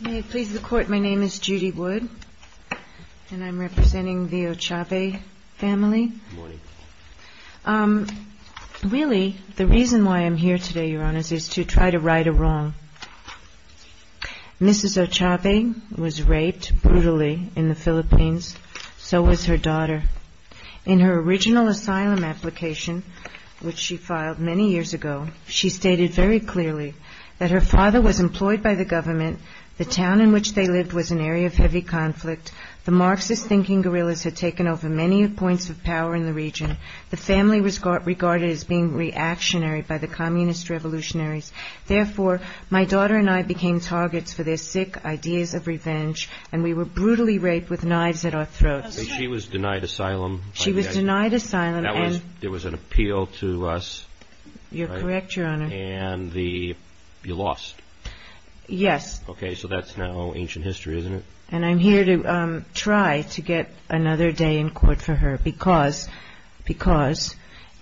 May it please the Court, my name is Judy Wood, and I'm representing the Ochave family. Good morning. Really, the reason why I'm here today, Your Honor, is to try to right a wrong. Mrs. Ochave was raped brutally in the Philippines, so was her daughter. In her original asylum application, which she filed many years ago, she stated very clearly that her father was employed by the government, the town in which they lived was an area of heavy conflict, the Marxist-thinking guerrillas had taken over many points of power in the region, the family was regarded as being reactionary by the communist revolutionaries. Therefore, my daughter and I became targets for their sick ideas of revenge, and we were brutally raped with knives at our throats. She was denied asylum. She was denied asylum. There was an appeal to us. You're correct, Your Honor. And you lost. Yes. Okay, so that's now ancient history, isn't it? And I'm here to try to get another day in court for her, because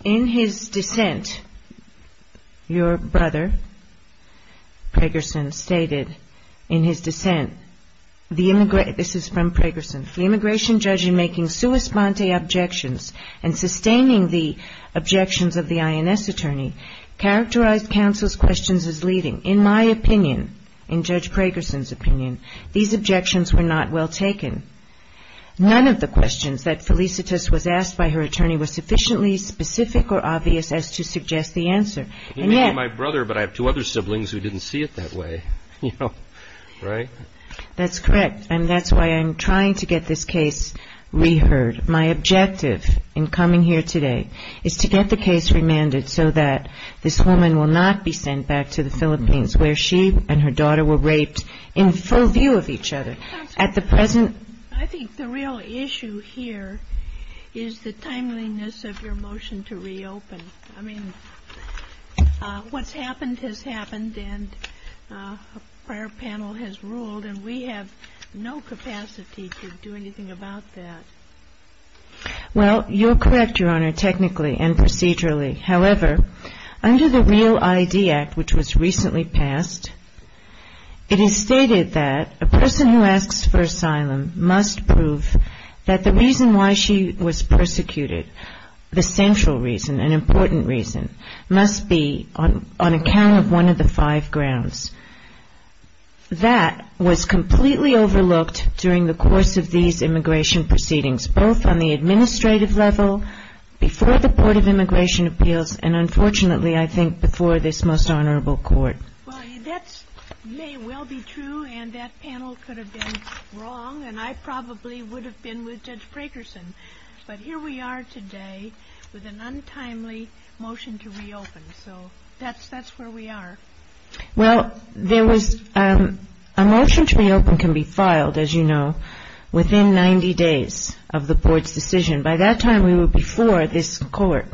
in his dissent, your brother, Pregerson, stated in his dissent, this is from Pregerson, the immigration judge in making sua sponte objections and sustaining the objections of the INS attorney characterized counsel's questions as leading. In my opinion, in Judge Pregerson's opinion, these objections were not well taken. None of the questions that Felicitas was asked by her attorney was sufficiently specific or obvious as to suggest the answer. He may be my brother, but I have two other siblings who didn't see it that way, you know, right? That's correct, and that's why I'm trying to get this case reheard. My objective in coming here today is to get the case remanded so that this woman will not be sent back to the Philippines, where she and her daughter were raped in full view of each other. At the present ---- I think the real issue here is the timeliness of your motion to reopen. I mean, what's happened has happened, and our panel has ruled, and we have no capacity to do anything about that. Well, you're correct, Your Honor, technically and procedurally. However, under the REAL-ID Act, which was recently passed, it is stated that a person who asks for asylum must prove that the reason why she was persecuted, the central reason, an important reason, must be on account of one of the five grounds. That was completely overlooked during the course of these immigration proceedings, both on the administrative level, before the Port of Immigration Appeals, and unfortunately, I think, before this most honorable court. Well, that may well be true, and that panel could have been wrong, and I probably would have been with Judge Prakerson. But here we are today with an untimely motion to reopen, so that's where we are. Well, there was ---- a motion to reopen can be filed, as you know, within 90 days of the board's decision. By that time, we were before this court,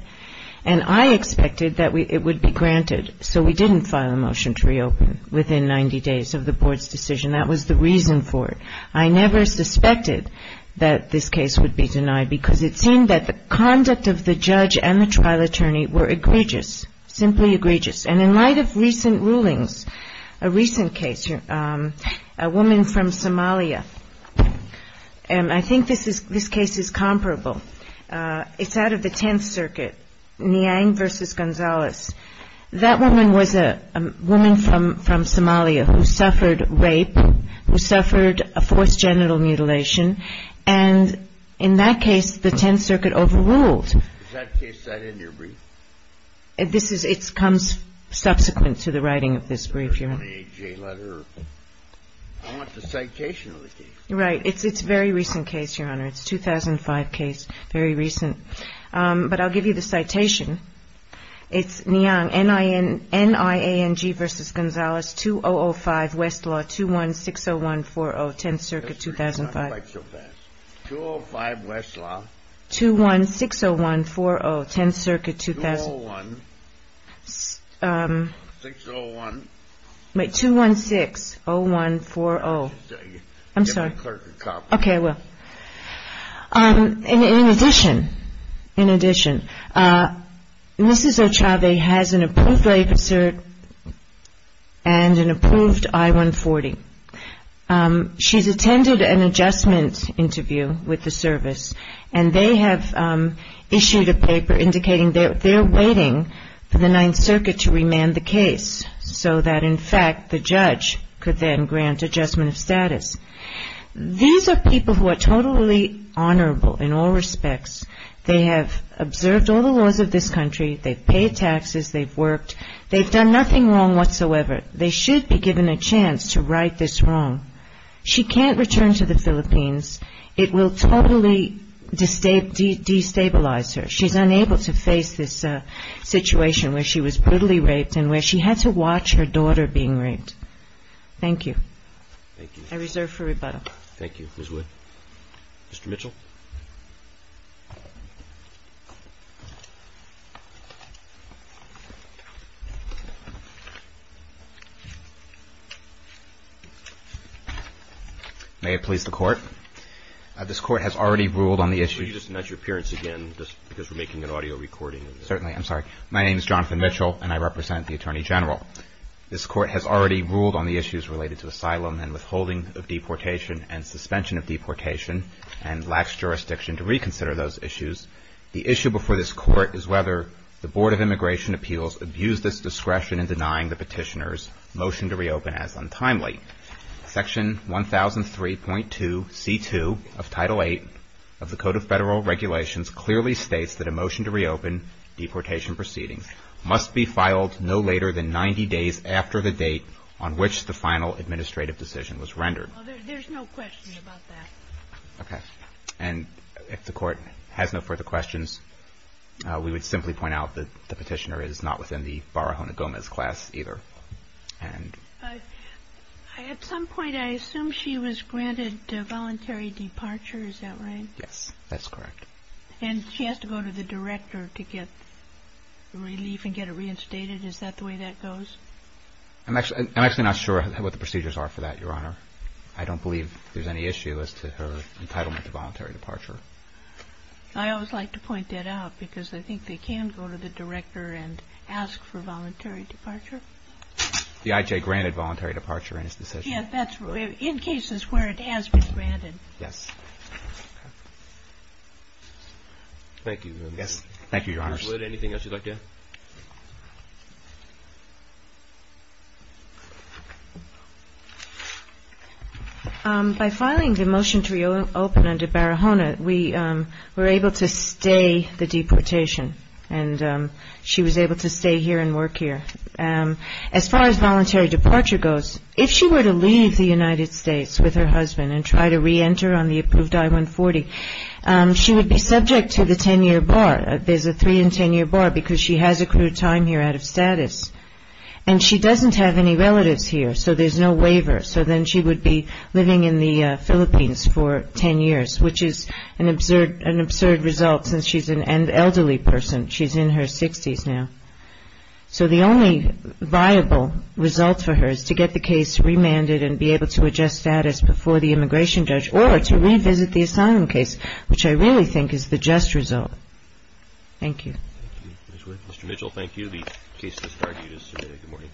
and I expected that it would be granted, so we didn't file a motion to reopen within 90 days of the board's decision. That was the reason for it. I never suspected that this case would be denied because it seemed that the conduct of the judge and the trial attorney were egregious, simply egregious, and in light of recent rulings, a recent case, a woman from Somalia, and I think this case is comparable. It's out of the Tenth Circuit, Niang v. Gonzalez. That woman was a woman from Somalia who suffered rape, who suffered a forced genital mutilation, and in that case, the Tenth Circuit overruled. Is that case cited in your brief? It comes subsequent to the writing of this brief, Your Honor. I want the citation of the case. Right. It's a very recent case, Your Honor. It's a 2005 case, very recent. But I'll give you the citation. It's Niang, N-I-A-N-G v. Gonzalez, 2005, Westlaw, 2-1-6-0-1-4-0, Tenth Circuit, 2005. 205, Westlaw. 2-1-6-0-1-4-0, Tenth Circuit, 2005. 2-1-6-0-1-4-0. 2-1-6-0-1-4-0. I'm sorry. Get my clerk a copy. Okay, I will. In addition, Mrs. Ochave has an approved rape assert and an approved I-140. She's attended an adjustment interview with the service, and they have issued a paper indicating they're waiting for the Ninth Circuit to remand the case so that, in fact, the judge could then grant adjustment of status. These are people who are totally honorable in all respects. They have observed all the laws of this country. They've paid taxes. They've worked. They've done nothing wrong whatsoever. They should be given a chance to right this wrong. She can't return to the Philippines. It will totally destabilize her. She's unable to face this situation where she was brutally raped and where she had to watch her daughter being raped. Thank you. Thank you. I reserve for rebuttal. Thank you, Ms. Wood. Mr. Mitchell. May it please the Court. This Court has already ruled on the issue. Could you just mention your appearance again, just because we're making an audio recording. Certainly. I'm sorry. My name is Jonathan Mitchell, and I represent the Attorney General. This Court has already ruled on the issues related to asylum and withholding of deportation and suspension of deportation and laxity of deportation. to reconsider those issues. The issue before this Court is whether the Board of Immigration Appeals abused this discretion in denying the petitioner's motion to reopen as untimely. Section 1003.2c2 of Title VIII of the Code of Federal Regulations clearly states that a motion to reopen deportation proceedings must be filed no later than 90 days There's no question about that. Okay. And if the Court has no further questions, we would simply point out that the petitioner is not within the Barahona Gomez class either. At some point, I assume she was granted voluntary departure. Is that right? Yes. That's correct. And she has to go to the director to get relief and get it reinstated. Is that the way that goes? I'm actually not sure what the procedures are for that, Your Honor. I don't believe there's any issue as to her entitlement to voluntary departure. I always like to point that out because I think they can go to the director and ask for voluntary departure. The I.J. granted voluntary departure in his decision. Yes. In cases where it has been granted. Yes. Thank you. Thank you, Your Honors. Ms. Wood, anything else you'd like to add? By filing the motion to reopen under Barahona, we were able to stay the deportation, and she was able to stay here and work here. As far as voluntary departure goes, if she were to leave the United States with her husband and try to reenter on the approved I-140, she would be subject to the 10-year bar. There's a 3- and 10-year bar because she has accrued time here out of status. And she doesn't have any relatives here, so there's no waiver. So then she would be living in the Philippines for 10 years, which is an absurd result since she's an elderly person. She's in her 60s now. So the only viable result for her is to get the case remanded and be able to adjust status before the immigration judge or to revisit the asylum case, which I really think is the just result. Thank you. Thank you, Ms. Wood. Mr. Mitchell, thank you. The case is discarded. It is submitted.